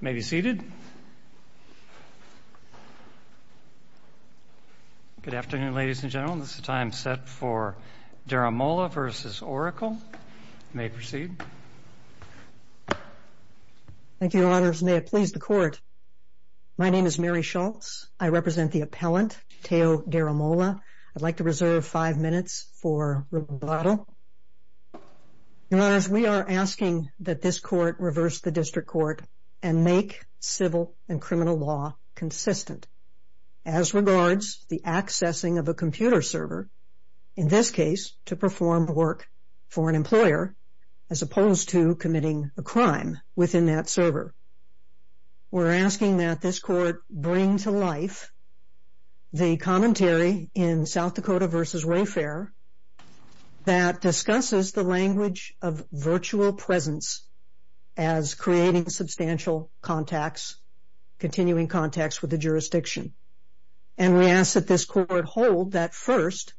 May be seated. Good afternoon, ladies and gentlemen. This is the time set for Daramola v. Oracle. May proceed. Thank you, Your Honors. May it please the Court. My name is Mary Schultz. I represent the appellant, Teo Daramola. I'd like to reserve five minutes for rebuttal. Your Honors, we are asking that this Court reverse the district court and make civil and criminal law consistent. As regards the accessing of a computer server, in this case to perform work for an employer, as opposed to committing a crime within that server. We're asking that this Court bring to life the commentary in South Dakota v. Wayfair that discusses the language of virtual presence as creating substantial contacts, continuing contacts with the jurisdiction. And we ask that this Court hold that, first,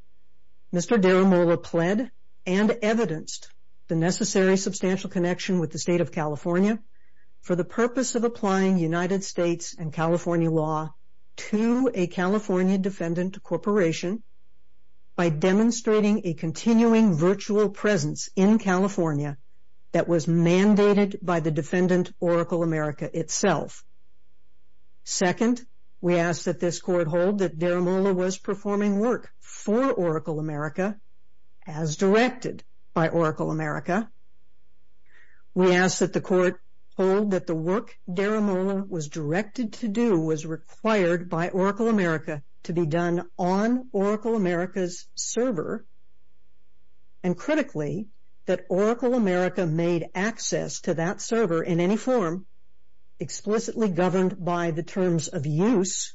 Mr. Daramola pled and evidenced the necessary substantial connection with the State of California for the purpose of applying United States and California law to a California defendant corporation by demonstrating a continuing virtual presence in California that was mandated by the defendant, Oracle America, itself. Second, we ask that this Court hold that Daramola was performing work for Oracle America as directed by Oracle America. We ask that the Court hold that the work Daramola was directed to do was required by Oracle America to be done on Oracle America's server. And critically, that Oracle America made access to that server in any form explicitly governed by the terms of use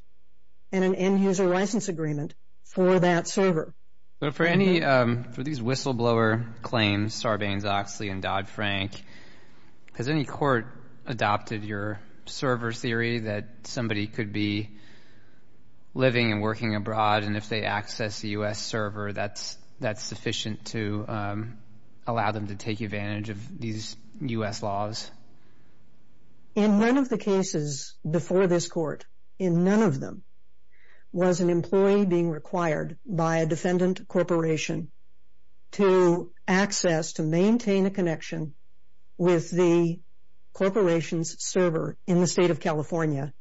and an end-user license agreement for that server. But for any, for these whistleblower claims, Sarbanes-Oxley and Dodd-Frank, has any court adopted your server theory that somebody could be living and working abroad, and if they access the U.S. server, that's sufficient to allow them to take advantage of these U.S. laws? In none of the cases before this Court, in none of them, was an employee being required by a defendant corporation to access, to maintain a connection with the corporation's server in the State of California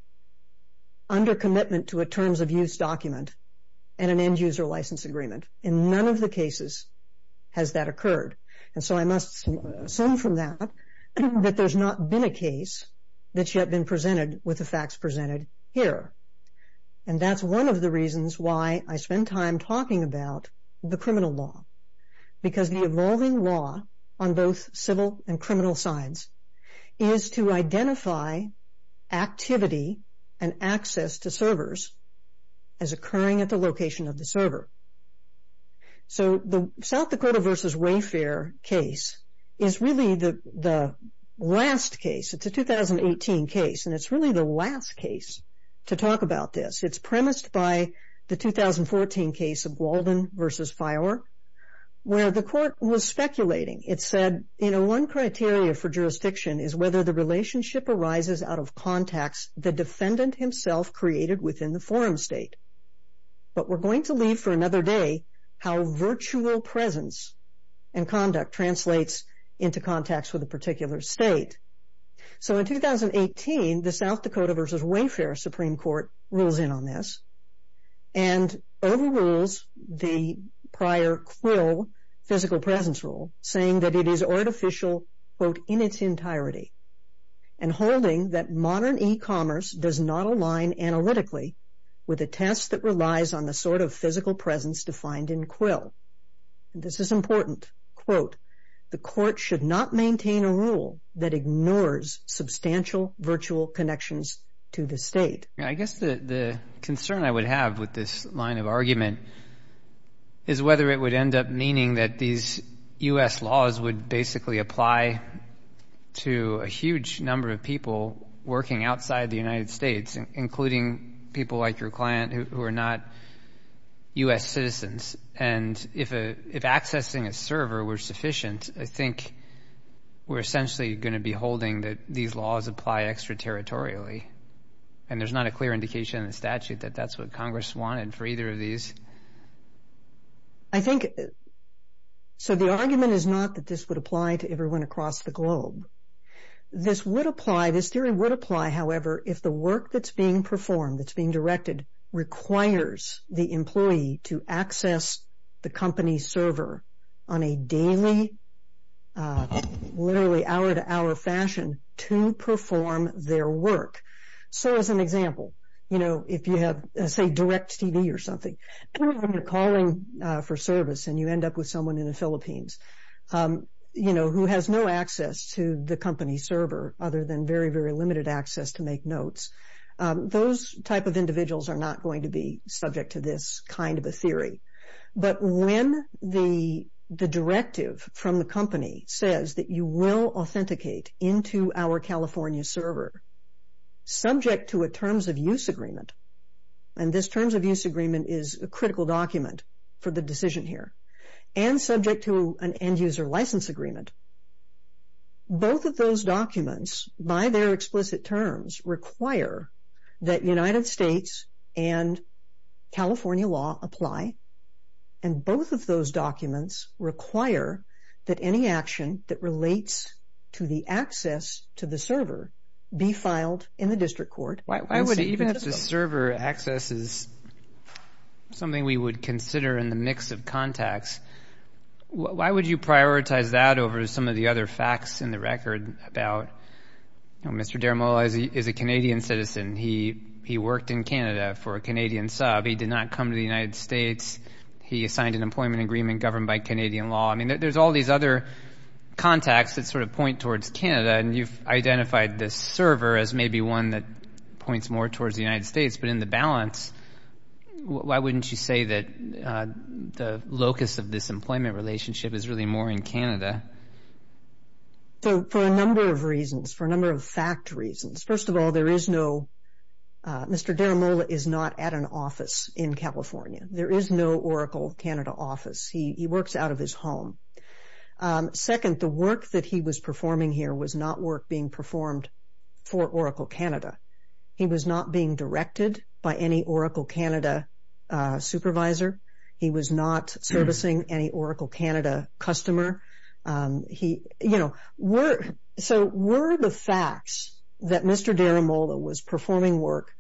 under commitment to a terms of use document and an end-user license agreement. In none of the cases has that occurred, and so I must assume from that that there's not been a case that's yet been presented with the facts presented here. And that's one of the reasons why I spend time talking about the criminal law, because the evolving law on both civil and criminal sides is to identify activity and access to servers as occurring at the location of the server. So the South Dakota v. Wayfair case is really the last case. It's a 2018 case, and it's really the last case to talk about this. It's premised by the 2014 case of Walden v. Fiore, where the court was speculating. It said, you know, one criteria for jurisdiction is whether the relationship arises out of contacts the defendant himself created within the forum state. But we're going to leave for another day how virtual presence and conduct translates into contacts with a particular state. So in 2018, the South Dakota v. Wayfair Supreme Court rules in on this and overrules the prior Quill physical presence rule, saying that it is artificial, quote, in its entirety, and holding that modern e-commerce does not align analytically with a test that relies on the sort of physical presence defined in Quill. This is important. Quote, the court should not maintain a rule that ignores substantial virtual connections to the state. I guess the concern I would have with this line of argument is whether it would end up meaning that these U.S. laws would basically apply to a huge number of people working outside the United States, including people like your client who are not U.S. citizens. And if accessing a server were sufficient, I think we're essentially going to be holding that these laws apply extraterritorially, and there's not a clear indication in the statute that that's what Congress wanted for either of these. I think, so the argument is not that this would apply to everyone across the globe. This would apply, this theory would apply, however, if the work that's being performed, that's being directed, requires the employee to access the company server on a daily, literally hour-to-hour fashion to perform their work. So as an example, you know, if you have, say, direct TV or something, and you're calling for service and you end up with someone in the Philippines, you know, who has no access to the company server other than very, very limited access to make notes, those type of individuals are not going to be subject to this kind of a theory. But when the directive from the company says that you will authenticate into our California server, subject to a terms of use agreement, and this terms of use agreement is a critical document for the decision here, and subject to an end-user license agreement, both of those documents, by their explicit terms, require that United States and California law apply, and both of those documents require that any action that relates to the access to the server be filed in the district court. Why would, even if the server access is something we would consider in the mix of contacts, why would you prioritize that over some of the other facts in the record about, you know, Mr. Deramola is a Canadian citizen. He worked in Canada for a Canadian sub. He did not come to the United States. He signed an employment agreement governed by Canadian law. I mean, there's all these other contacts that sort of point towards Canada, and you've identified this server as maybe one that points more towards the United States, but in the balance, why wouldn't you say that the locus of this employment relationship is really more in Canada? So, for a number of reasons, for a number of fact reasons. First of all, there is no – Mr. Deramola is not at an office in California. There is no Oracle Canada office. He works out of his home. Second, the work that he was performing here was not work being performed for Oracle Canada. He was not being directed by any Oracle Canada supervisor. He was not servicing any Oracle Canada customer. He – you know, so were the facts that Mr. Deramola was performing work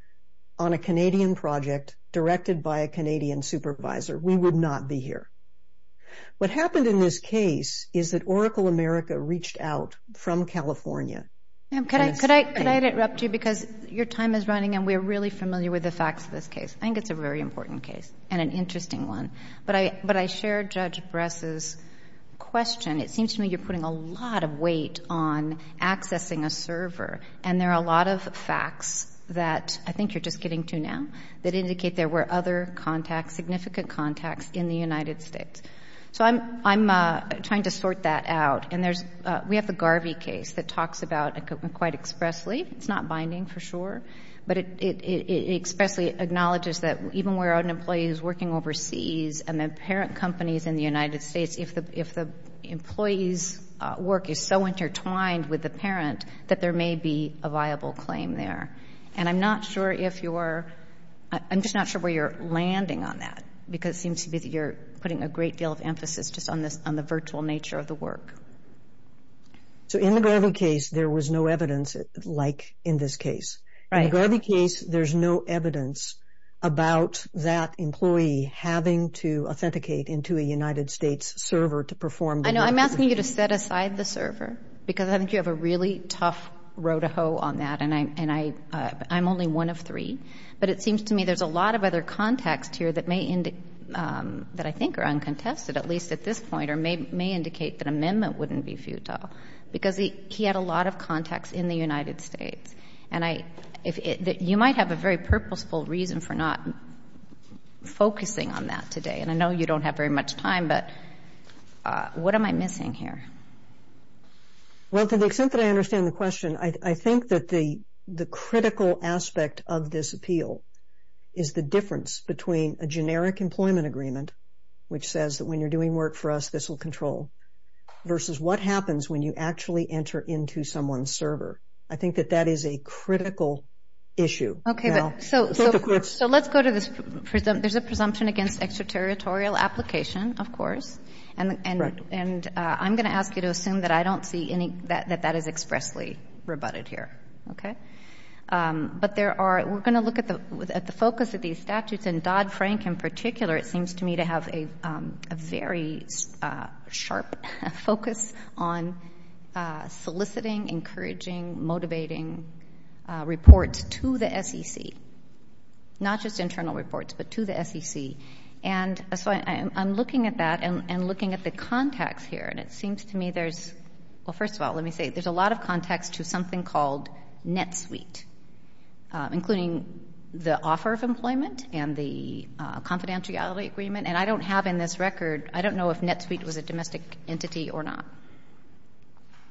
on a Canadian project directed by a Canadian supervisor, we would not be here. What happened in this case is that Oracle America reached out from California. Can I interrupt you? Because your time is running, and we're really familiar with the facts of this case. I think it's a very important case and an interesting one. But I shared Judge Bress's question. It seems to me you're putting a lot of weight on accessing a server, and there are a lot of facts that I think you're just getting to now that indicate there were other contacts, significant contacts in the United States. So I'm trying to sort that out, and there's – we have the Garvey case that talks about it quite expressly. It's not binding for sure, but it expressly acknowledges that even where an employee is working overseas and the parent company is in the United States, if the employee's work is so intertwined with the parent, that there may be a viable claim there. And I'm not sure if you're – I'm just not sure where you're landing on that, because it seems to me that you're putting a great deal of emphasis just on the virtual nature of the work. So in the Garvey case, there was no evidence like in this case. Right. In the Garvey case, there's no evidence about that employee having to authenticate into a United States server to perform the work. I know. I'm asking you to set aside the server, because I think you have a really tough row to hoe on that, and I'm only one of three. But it seems to me there's a lot of other context here that may – that I think are uncontested, at least at this point, or may indicate that amendment wouldn't be futile, because he had a lot of context in the United States. And I – you might have a very purposeful reason for not focusing on that today, and I know you don't have very much time, but what am I missing here? Well, to the extent that I understand the question, I think that the critical aspect of this appeal is the difference between a generic employment agreement, which says that when you're doing work for us, this will control, versus what happens when you actually enter into someone's server. I think that that is a critical issue. Okay, but so let's go to this – there's a presumption against extraterritorial application, of course. Correct. And I'm going to ask you to assume that I don't see any – that that is expressly rebutted here, okay? But there are – we're going to look at the focus of these statutes, and Dodd-Frank in particular, it seems to me, to have a very sharp focus on soliciting, encouraging, motivating reports to the SEC, not just internal reports, but to the SEC. And so I'm looking at that and looking at the context here, and it seems to me there's – well, first of all, let me say, there's a lot of context to something called NetSuite, including the offer of employment and the confidentiality agreement. And I don't have in this record – I don't know if NetSuite was a domestic entity or not.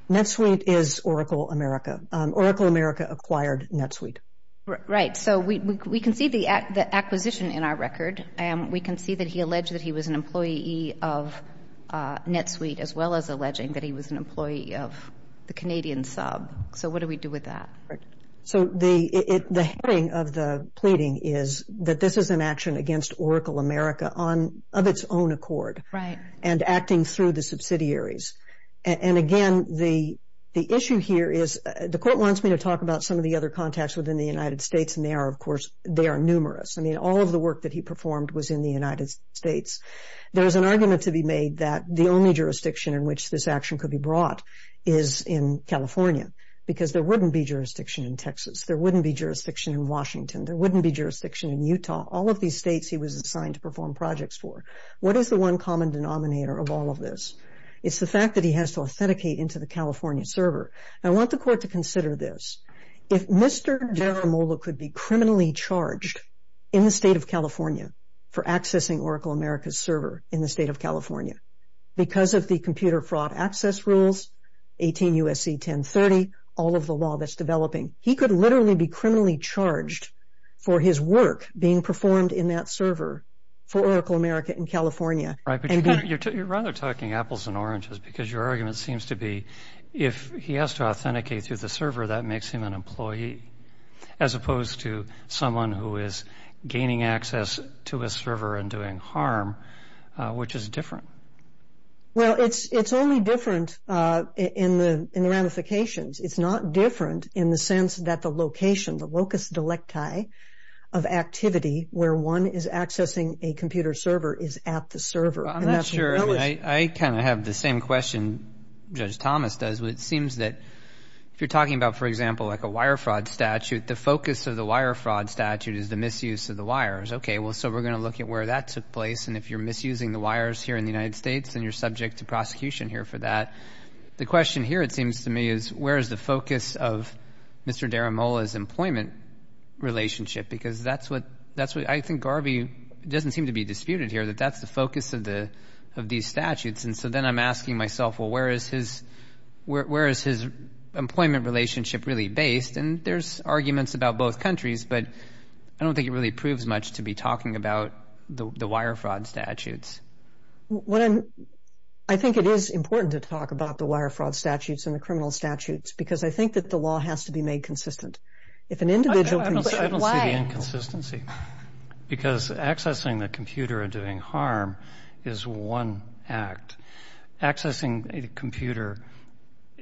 NetSuite is Oracle America. Oracle America acquired NetSuite. Right, so we can see the acquisition in our record. We can see that he alleged that he was an employee of NetSuite, as well as alleging that he was an employee of the Canadian sub. So what do we do with that? So the heading of the pleading is that this is an action against Oracle America on – of its own accord. Right. And acting through the subsidiaries. And, again, the issue here is the court wants me to talk about some of the other contacts within the United States, and they are, of course – they are numerous. I mean, all of the work that he performed was in the United States. There is an argument to be made that the only jurisdiction in which this action could be brought is in California, because there wouldn't be jurisdiction in Texas. There wouldn't be jurisdiction in Washington. There wouldn't be jurisdiction in Utah. All of these states he was assigned to perform projects for. What is the one common denominator of all of this? It's the fact that he has to authenticate into the California server. I want the court to consider this. If Mr. Deramola could be criminally charged in the state of California for accessing Oracle America's server in the state of California because of the computer fraud access rules, 18 U.S.C. 1030, all of the law that's developing, he could literally be criminally charged for his work being performed in that server for Oracle America in California. Right. But you're rather talking apples and oranges because your argument seems to be if he has to authenticate through the server, that makes him an employee as opposed to someone who is gaining access to a server and doing harm, which is different. Well, it's only different in the ramifications. It's not different in the sense that the location, the locus delecti of activity where one is accessing a computer server is at the server. I'm not sure. I kind of have the same question Judge Thomas does. It seems that if you're talking about, for example, like a wire fraud statute, the focus of the wire fraud statute is the misuse of the wires. Okay, well, so we're going to look at where that took place. And if you're misusing the wires here in the United States and you're subject to prosecution here for that, the question here, it seems to me, is where is the focus of Mr. Deramola's employment relationship? Because that's what I think Garvey doesn't seem to be disputed here, that that's the focus of these statutes. And so then I'm asking myself, well, where is his employment relationship really based? And there's arguments about both countries, but I don't think it really proves much to be talking about the wire fraud statutes. I think it is important to talk about the wire fraud statutes and the criminal statutes because I think that the law has to be made consistent. I don't see the inconsistency. Because accessing the computer and doing harm is one act. Accessing a computer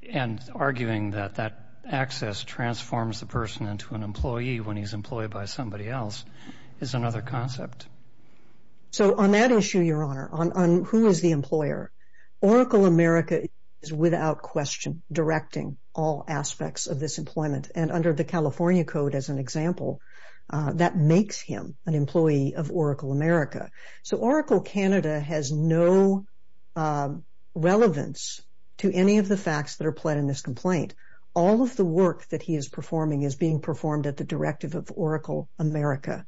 and arguing that that access transforms the person into an employee when he's employed by somebody else is another concept. So on that issue, Your Honor, on who is the employer, Oracle America is without question directing all aspects of this employment. And under the California Code, as an example, that makes him an employee of Oracle America. So Oracle Canada has no relevance to any of the facts that are pled in this complaint. All of the work that he is performing is being performed at the directive of Oracle America.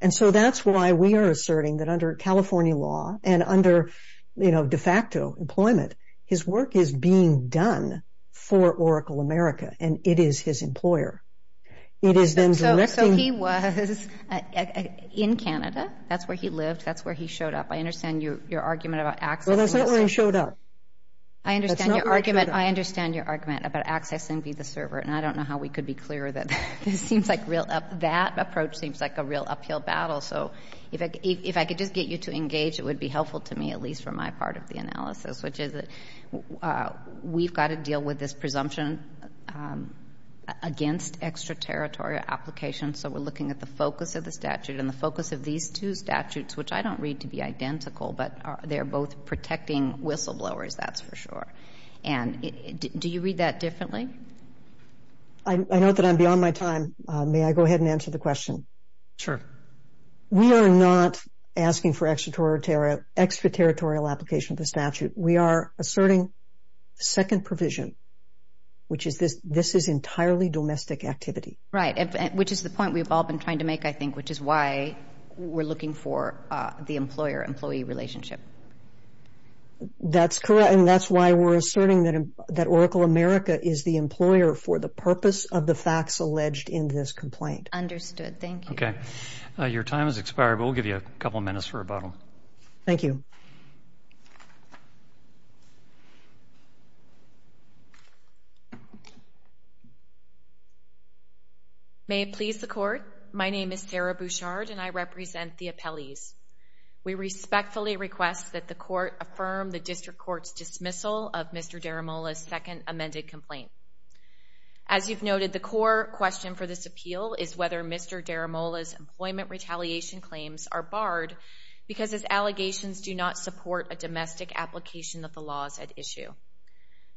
And so that's why we are asserting that under California law and under de facto employment, his work is being done for Oracle America and it is his employer. So he was in Canada. That's where he lived. That's where he showed up. I understand your argument about accessing the server. Well, that's not where he showed up. I understand your argument about accessing the server, and I don't know how we could be clearer than that. That approach seems like a real uphill battle. So if I could just get you to engage, it would be helpful to me, at least for my part of the analysis, which is we've got to deal with this presumption against extraterritorial applications. So we're looking at the focus of the statute and the focus of these two statutes, which I don't read to be identical, but they're both protecting whistleblowers, that's for sure. And do you read that differently? I note that I'm beyond my time. May I go ahead and answer the question? Sure. We are not asking for extraterritorial application of the statute. We are asserting second provision, which is this is entirely domestic activity. Right, which is the point we've all been trying to make, I think, which is why we're looking for the employer-employee relationship. That's correct, and that's why we're asserting that Oracle America is the employer for the purpose of the facts alleged in this complaint. Understood. Very good. Thank you. Okay. Your time has expired, but we'll give you a couple minutes for rebuttal. Thank you. May it please the Court, my name is Sarah Bouchard, and I represent the appellees. We respectfully request that the Court affirm the district court's dismissal of Mr. Deramola's second amended complaint. As you've noted, the core question for this appeal is whether Mr. Deramola's employment retaliation claims are barred because his allegations do not support a domestic application of the laws at issue.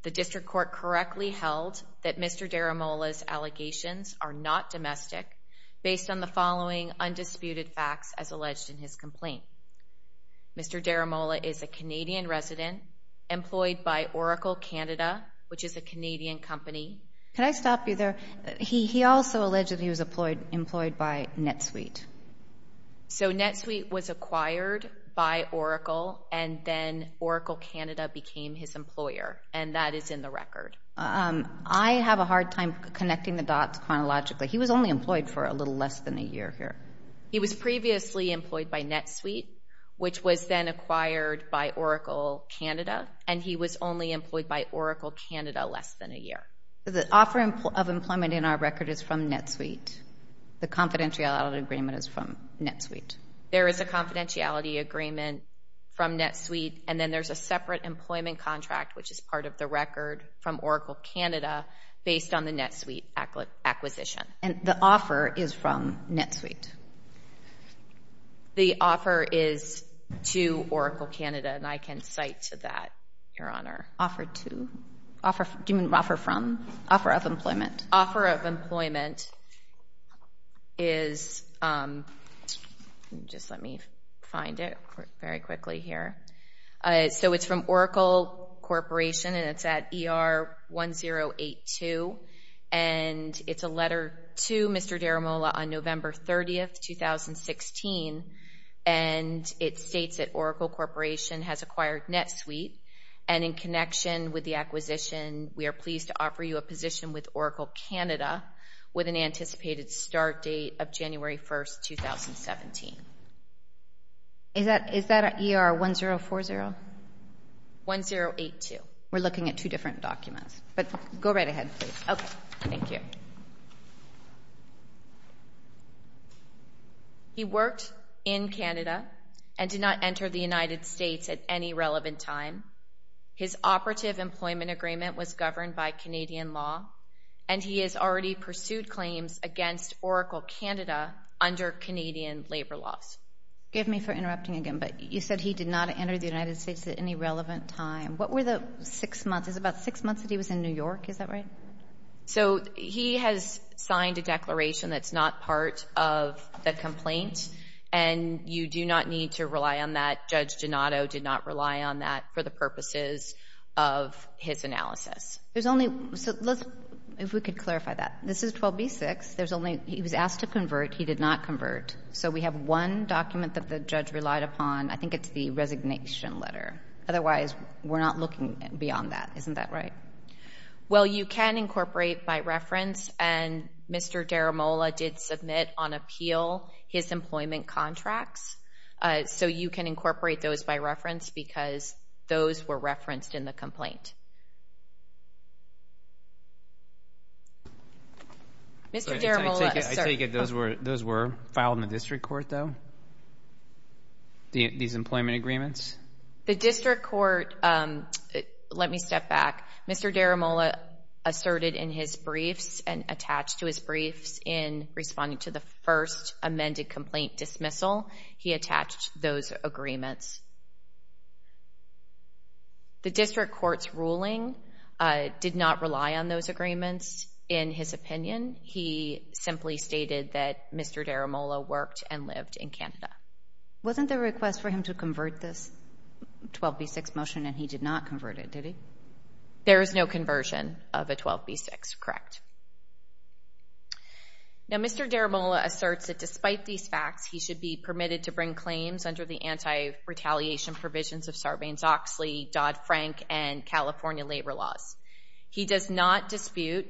The district court correctly held that Mr. Deramola's allegations are not domestic based on the following undisputed facts as alleged in his complaint. Mr. Deramola is a Canadian resident employed by Oracle Canada, which is a Canadian company. Can I stop you there? He also alleged he was employed by NetSuite. So NetSuite was acquired by Oracle, and then Oracle Canada became his employer, and that is in the record. I have a hard time connecting the dots chronologically. He was only employed for a little less than a year here. He was previously employed by NetSuite, which was then acquired by Oracle Canada, and he was only employed by Oracle Canada less than a year. The offer of employment in our record is from NetSuite. The confidentiality agreement is from NetSuite. There is a confidentiality agreement from NetSuite, and then there's a separate employment contract, which is part of the record, from Oracle Canada based on the NetSuite acquisition. And the offer is from NetSuite. The offer is to Oracle Canada, and I can cite to that, Your Honor. Offer to? Do you mean offer from? Offer of employment. Offer of employment is, just let me find it very quickly here. So it's from Oracle Corporation, and it's at ER1082, and it's a letter to Mr. Deramola on November 30th, 2016, and it states that Oracle Corporation has acquired NetSuite, and in connection with the acquisition, we are pleased to offer you a position with Oracle Canada with an anticipated start date of January 1st, 2017. Is that ER1040? 1082. We're looking at two different documents, but go right ahead, please. Okay, thank you. He worked in Canada and did not enter the United States at any relevant time. His operative employment agreement was governed by Canadian law, and he has already pursued claims against Oracle Canada under Canadian labor laws. Forgive me for interrupting again, but you said he did not enter the United States at any relevant time. What were the six months? Is it about six months that he was in New York? Is that right? So he has signed a declaration that's not part of the complaint, and you do not need to rely on that. Judge Donato did not rely on that for the purposes of his analysis. There's only, so let's, if we could clarify that. This is 12b-6. There's only, he was asked to convert. He did not convert. So we have one document that the judge relied upon. I think it's the resignation letter. Otherwise, we're not looking beyond that. Isn't that right? Well, you can incorporate by reference, and Mr. Deramola did submit on appeal his employment contracts. So you can incorporate those by reference because those were referenced in the complaint. Mr. Deramola. I take it those were filed in the district court, though, these employment agreements? The district court, let me step back. Mr. Deramola asserted in his briefs and attached to his briefs in responding to the first amended complaint dismissal, he attached those agreements. The district court's ruling did not rely on those agreements in his opinion. He simply stated that Mr. Deramola worked and lived in Canada. Wasn't there a request for him to convert this 12b-6 motion, and he did not convert it, did he? There is no conversion of a 12b-6, correct. Now, Mr. Deramola asserts that despite these facts, he should be permitted to bring claims under the anti-retaliation provisions of Sarbanes-Oxley, Dodd-Frank, and California labor laws. He does not dispute,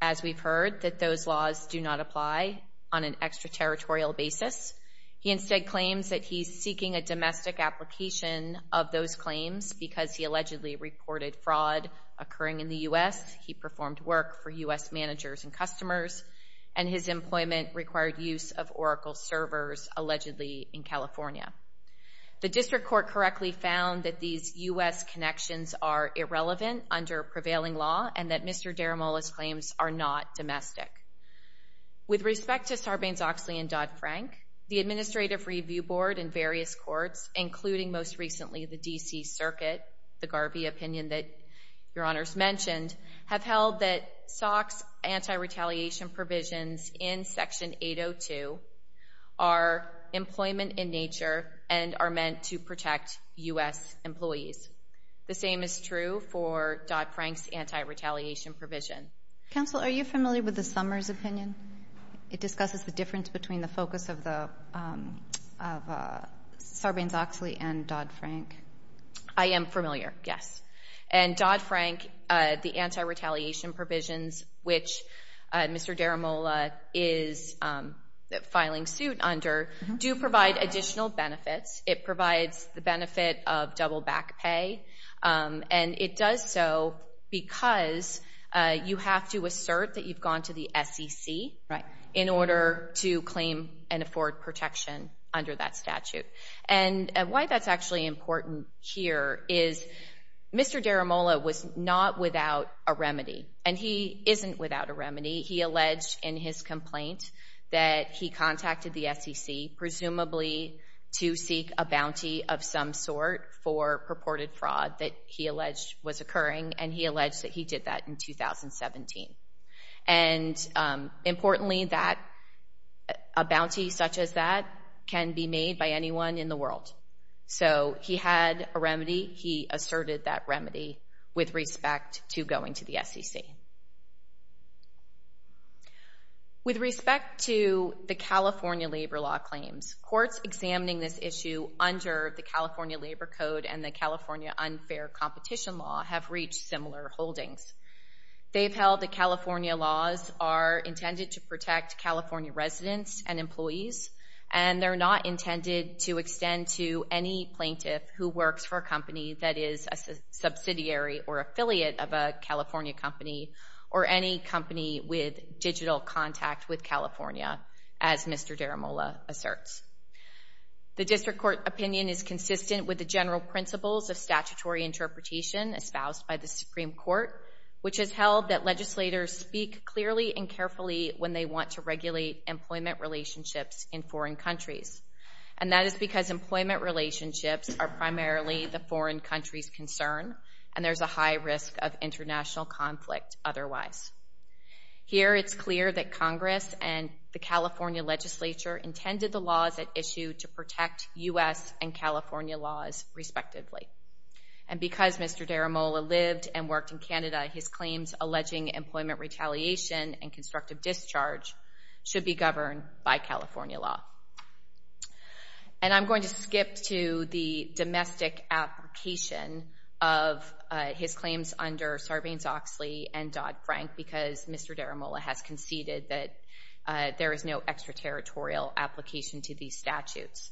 as we've heard, that those laws do not apply on an extraterritorial basis. He instead claims that he's seeking a domestic application of those claims because he allegedly reported fraud occurring in the U.S., he performed work for U.S. managers and customers, and his employment required use of Oracle servers, allegedly in California. The district court correctly found that these U.S. connections are irrelevant under prevailing law and that Mr. Deramola's claims are not domestic. With respect to Sarbanes-Oxley and Dodd-Frank, the Administrative Review Board and various courts, including most recently the D.C. Circuit, the Garvey opinion that Your Honors mentioned, have held that SOC's anti-retaliation provisions in Section 802 are employment in nature and are meant to protect U.S. employees. The same is true for Dodd-Frank's anti-retaliation provision. Counsel, are you familiar with the Summers opinion? It discusses the difference between the focus of Sarbanes-Oxley and Dodd-Frank. I am familiar, yes. And Dodd-Frank, the anti-retaliation provisions, which Mr. Deramola is filing suit under, do provide additional benefits. It provides the benefit of double back pay, and it does so because you have to assert that you've gone to the SEC in order to claim and afford protection under that statute. And why that's actually important here is Mr. Deramola was not without a remedy, and he isn't without a remedy. He alleged in his complaint that he contacted the SEC, presumably to seek a bounty of some sort for purported fraud that he alleged was occurring, and he alleged that he did that in 2017. And importantly, a bounty such as that can be made by anyone in the world. So he had a remedy. He asserted that remedy with respect to going to the SEC. With respect to the California labor law claims, courts examining this issue under the California Labor Code and the California Unfair Competition Law have reached similar holdings. They've held that California laws are intended to protect California residents and employees, and they're not intended to extend to any plaintiff who works for a company that is a subsidiary or affiliate of a California company or any company with digital contact with California, as Mr. Deramola asserts. The district court opinion is consistent with the general principles of statutory interpretation espoused by the Supreme Court, which has held that legislators speak clearly and carefully when they want to regulate employment relationships in foreign countries, and that is because employment relationships are primarily the foreign country's concern and there's a high risk of international conflict otherwise. Here it's clear that Congress and the California legislature intended the laws at issue to protect U.S. and California laws respectively. And because Mr. Deramola lived and worked in Canada, his claims alleging employment retaliation and constructive discharge should be governed by California law. And I'm going to skip to the domestic application of his claims under Sarbanes-Oxley and Dodd-Frank because Mr. Deramola has conceded that there is no extraterritorial application to these statutes.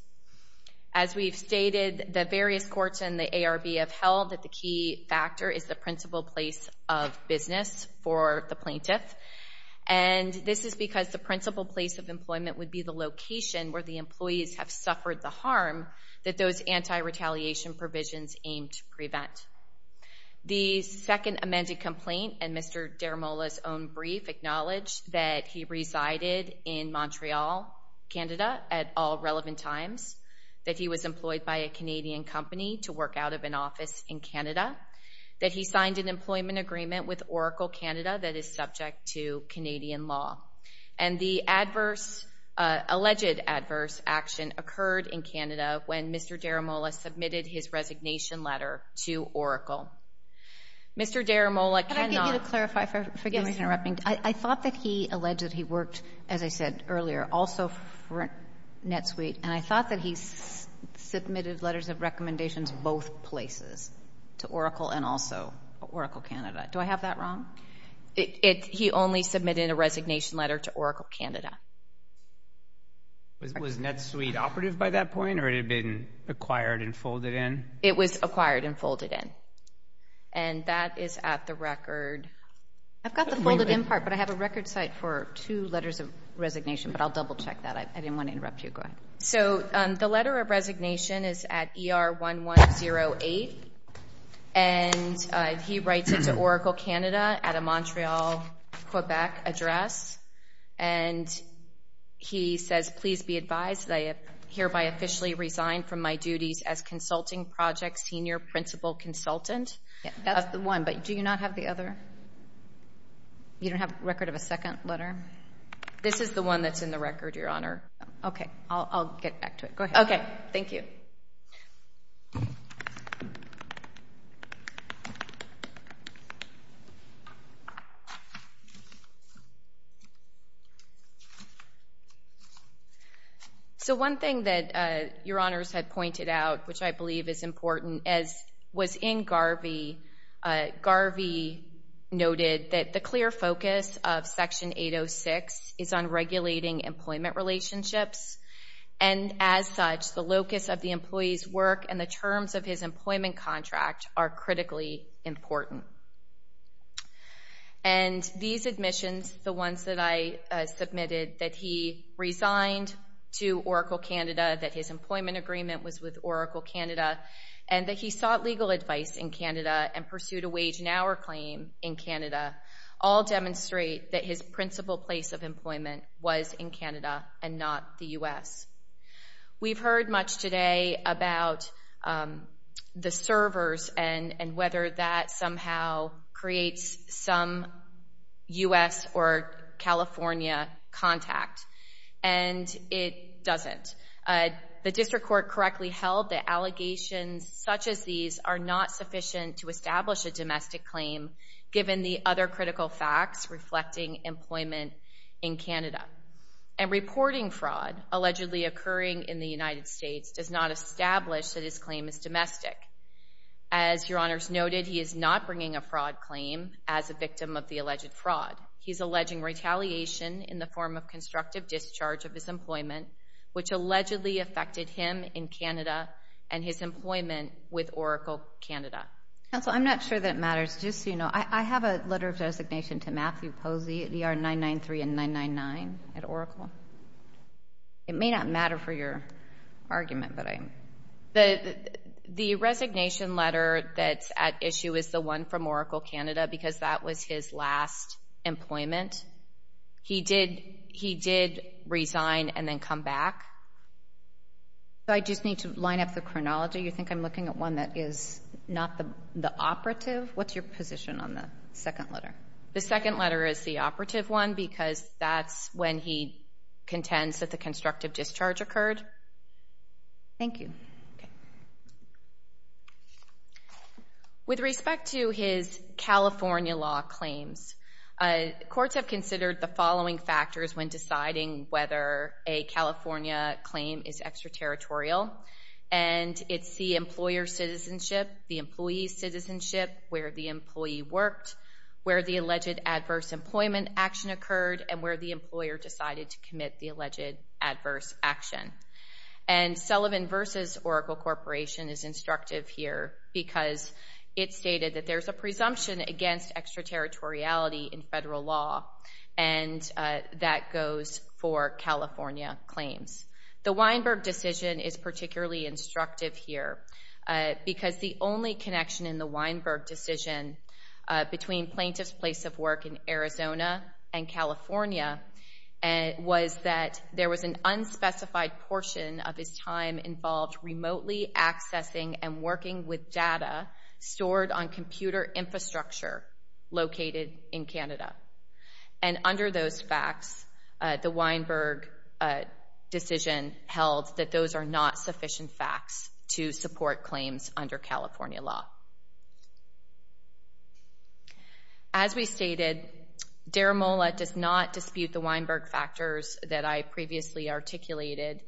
As we've stated, the various courts and the ARB have held that the key factor is the principal place of business for the plaintiff, and this is because the principal place of employment would be the location where the employees have suffered the harm that those anti-retaliation provisions aim to prevent. The second amended complaint in Mr. Deramola's own brief acknowledged that he resided in Montreal, Canada, at all relevant times, that he was employed by a Canadian company to work out of an office in Canada, that he signed an employment agreement with Oracle Canada that is subject to Canadian law. And the alleged adverse action occurred in Canada when Mr. Deramola submitted his resignation letter to Oracle. Mr. Deramola cannot- Could I get you to clarify? Forgive me for interrupting. I thought that he alleged that he worked, as I said earlier, also for NetSuite, and I thought that he submitted letters of recommendations both places, to Oracle and also Oracle Canada. Do I have that wrong? He only submitted a resignation letter to Oracle Canada. Was NetSuite operative by that point, or it had been acquired and folded in? It was acquired and folded in, and that is at the record- I've got the folded in part, but I have a record site for two letters of resignation, but I'll double-check that. I didn't want to interrupt you. Go ahead. So the letter of resignation is at ER1108, and he writes it to Oracle Canada at a Montreal, Quebec address, and he says, Please be advised that I have hereby officially resigned from my duties as consulting project senior principal consultant. That's the one, but do you not have the other? You don't have a record of a second letter? This is the one that's in the record, Your Honor. Okay. I'll get back to it. Go ahead. Okay. Thank you. So one thing that Your Honors had pointed out, which I believe is important, was in Garvey. Garvey noted that the clear focus of Section 806 is on regulating employment relationships, and as such, the locus of the employee's work and the terms of his employment contract are critically important. And these admissions, the ones that I submitted, that he resigned to Oracle Canada, that his employment agreement was with Oracle Canada, and that he sought legal advice in Canada and pursued a wage and hour claim in Canada, all demonstrate that his principal place of employment was in Canada and not the U.S. We've heard much today about the servers and whether that somehow creates some U.S. or California contact, and it doesn't. The district court correctly held that allegations such as these are not sufficient to establish a domestic claim given the other critical facts reflecting employment in Canada. And reporting fraud allegedly occurring in the United States does not establish that his claim is domestic. As Your Honors noted, he is not bringing a fraud claim as a victim of the alleged fraud. He's alleging retaliation in the form of constructive discharge of his employment, which allegedly affected him in Canada and his employment with Oracle Canada. Counsel, I'm not sure that matters. Just so you know, I have a letter of designation to Matthew Posey at ER 993 and 999 at Oracle. It may not matter for your argument, but I'm... The resignation letter that's at issue is the one from Oracle Canada because that was his last employment. He did resign and then come back. I just need to line up the chronology. You think I'm looking at one that is not the operative? What's your position on the second letter? The second letter is the operative one because that's when he contends that the constructive discharge occurred. Thank you. Okay. With respect to his California law claims, courts have considered the following factors when deciding whether a California claim is extraterritorial, and it's the employer's citizenship, the employee's citizenship, where the employee worked, where the alleged adverse employment action occurred, and where the employer decided to commit the alleged adverse action. Sullivan v. Oracle Corporation is instructive here because it stated that there's a presumption against extraterritoriality in federal law, and that goes for California claims. The Weinberg decision is particularly instructive here because the only connection in the Weinberg decision between plaintiff's place of work in Arizona and California was that there was an unspecified portion of his time involved remotely accessing and working with data stored on computer infrastructure located in Canada. And under those facts, the Weinberg decision held that those are not sufficient facts to support claims under California law. As we stated, Deramola does not dispute the Weinberg factors that I previously articulated.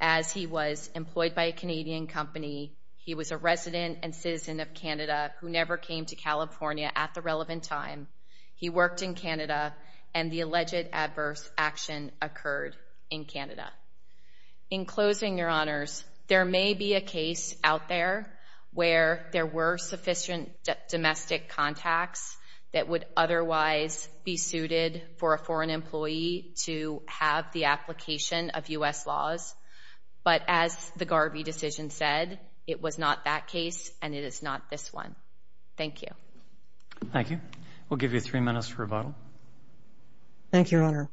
As he was employed by a Canadian company, he was a resident and citizen of Canada who never came to California at the relevant time. He worked in Canada, and the alleged adverse action occurred in Canada. In closing, Your Honors, there may be a case out there where there were sufficient domestic contacts that would otherwise be suited for a foreign employee to have the application of U.S. laws, but as the Garvey decision said, it was not that case and it is not this one. Thank you. Thank you. We'll give you three minutes for rebuttal. Thank you, Your Honor.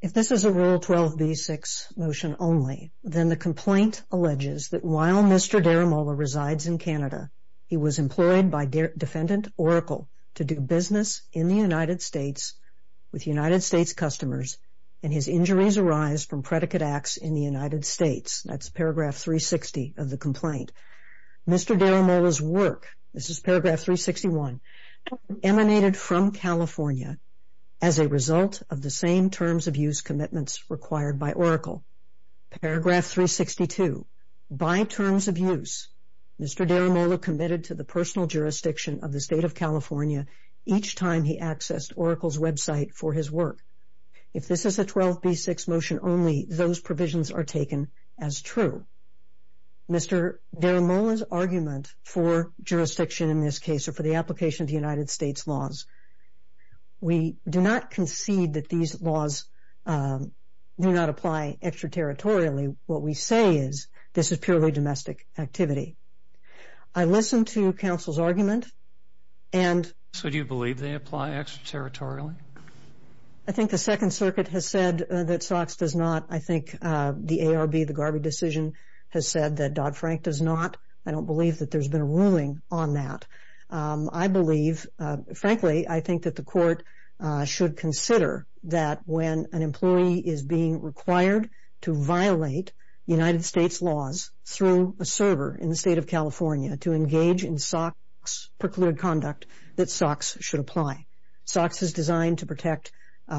If this is a Rule 12b-6 motion only, then the complaint alleges that while Mr. Deramola resides in Canada, he was employed by defendant Oracle to do business in the United States with United States customers, and his injuries arise from predicate acts in the United States. That's paragraph 360 of the complaint. Mr. Deramola's work, this is paragraph 361, emanated from California as a result of the same terms of use commitments required by Oracle. Paragraph 362, by terms of use, Mr. Deramola committed to the personal jurisdiction of the State of California each time he accessed Oracle's website for his work. If this is a 12b-6 motion only, those provisions are taken as true. Mr. Deramola's argument for jurisdiction in this case, or for the application of the United States laws, we do not concede that these laws do not apply extraterritorially. What we say is this is purely domestic activity. I listened to counsel's argument and... So do you believe they apply extraterritorially? I think the Second Circuit has said that SOX does not. I think the ARB, the Garvey decision, has said that Dodd-Frank does not. I don't believe that there's been a ruling on that. I believe, frankly, I think that the court should consider that when an employee is being required to violate United States laws through a server in the State of California to engage in SOX-procured conduct, that SOX should apply. SOX is designed to protect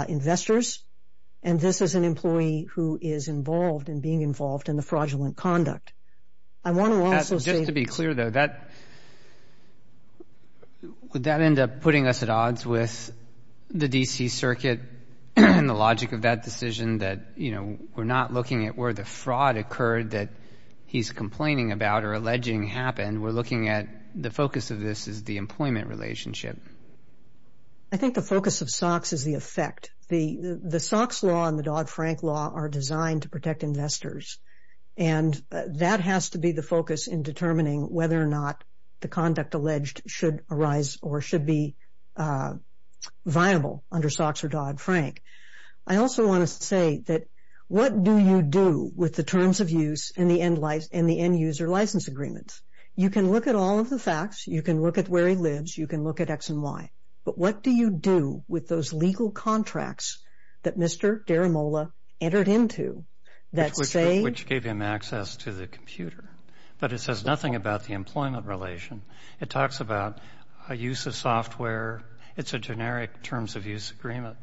investors, and this is an employee who is involved in being involved in the fraudulent conduct. I want to also say... Just to be clear, though, would that end up putting us at odds with the D.C. Circuit and the logic of that decision that, you know, we're not looking at where the fraud occurred that he's complaining about or alleging happened. We're looking at the focus of this as the employment relationship. I think the focus of SOX is the effect. The SOX law and the Dodd-Frank law are designed to protect investors, and that has to be the focus in determining whether or not the conduct alleged should arise or should be viable under SOX or Dodd-Frank. I also want to say that what do you do with the terms of use and the end-user license agreements? You can look at all of the facts. You can look at where he lives. You can look at X and Y. But what do you do with those legal contracts that Mr. Deramola entered into that say... Which gave him access to the computer, but it says nothing about the employment relation. It talks about a use of software. It's a generic terms of use agreement.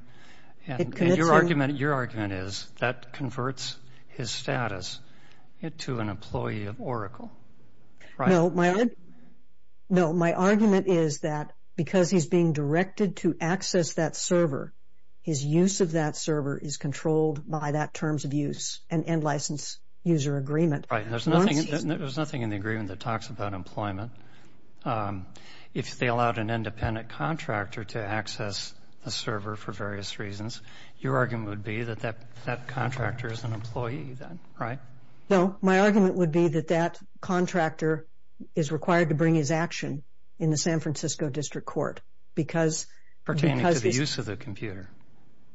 And your argument is that converts his status to an employee of Oracle, right? No, my argument is that because he's being directed to access that server, his use of that server is controlled by that terms of use and end-license user agreement. There's nothing in the agreement that talks about employment. If they allowed an independent contractor to access a server for various reasons, your argument would be that that contractor is an employee, right? No, my argument would be that that contractor is required to bring his action in the San Francisco District Court because... Pertaining to the use of the computer.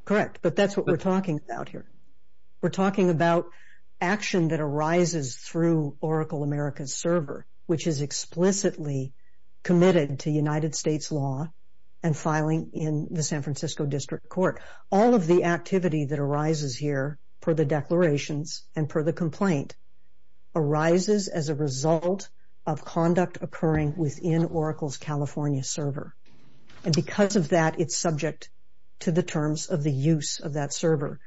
Correct, but that's what we're talking about here. We're talking about action that arises through Oracle America's server, which is explicitly committed to United States law and filing in the San Francisco District Court. All of the activity that arises here, per the declarations and per the complaint, arises as a result of conduct occurring within Oracle's California server. And because of that, it's subject to the terms of the use of that server.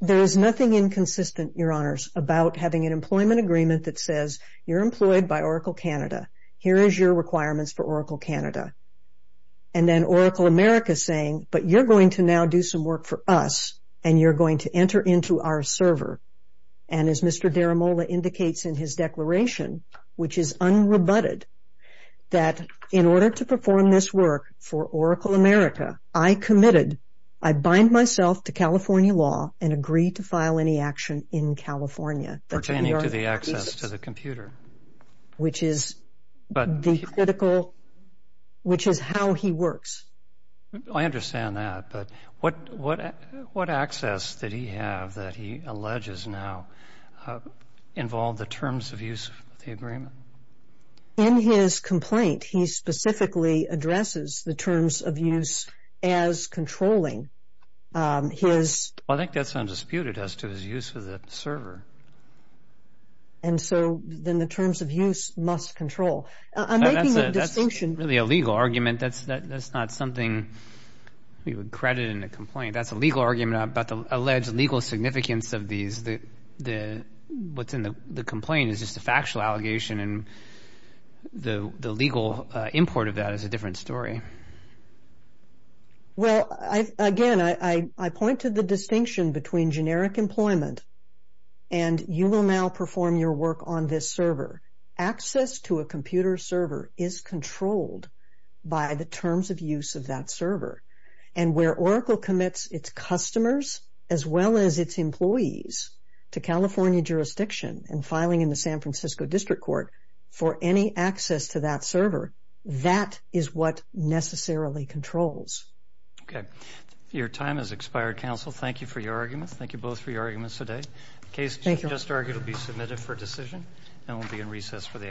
There is nothing inconsistent, Your Honors, about having an employment agreement that says you're employed by Oracle Canada. Here is your requirements for Oracle Canada. And then Oracle America is saying, but you're going to now do some work for us and you're going to enter into our server. And as Mr. Deramola indicates in his declaration, which is unrebutted, that in order to perform this work for Oracle America, I committed, I bind myself to California law and agree to file any action in California. Pertaining to the access to the computer. Which is the critical, which is how he works. I understand that, but what access did he have that he alleges now involved the terms of use of the agreement? In his complaint, he specifically addresses the terms of use as controlling his... I think that's undisputed as to his use of the server. And so then the terms of use must control. That's really a legal argument. That's not something we would credit in a complaint. That's a legal argument about the alleged legal significance of these. What's in the complaint is just a factual allegation and the legal import of that is a different story. Well, again, I point to the distinction between generic employment and you will now perform your work on this server. Access to a computer server is controlled by the terms of use of that server. And where Oracle commits its customers as well as its employees to California jurisdiction and filing in the San Francisco District Court for any access to that server, that is what necessarily controls. Okay. Your time has expired, counsel. Thank you for your arguments. Thank you both for your arguments today. The case you just argued will be submitted for decision and will be in recess for the afternoon.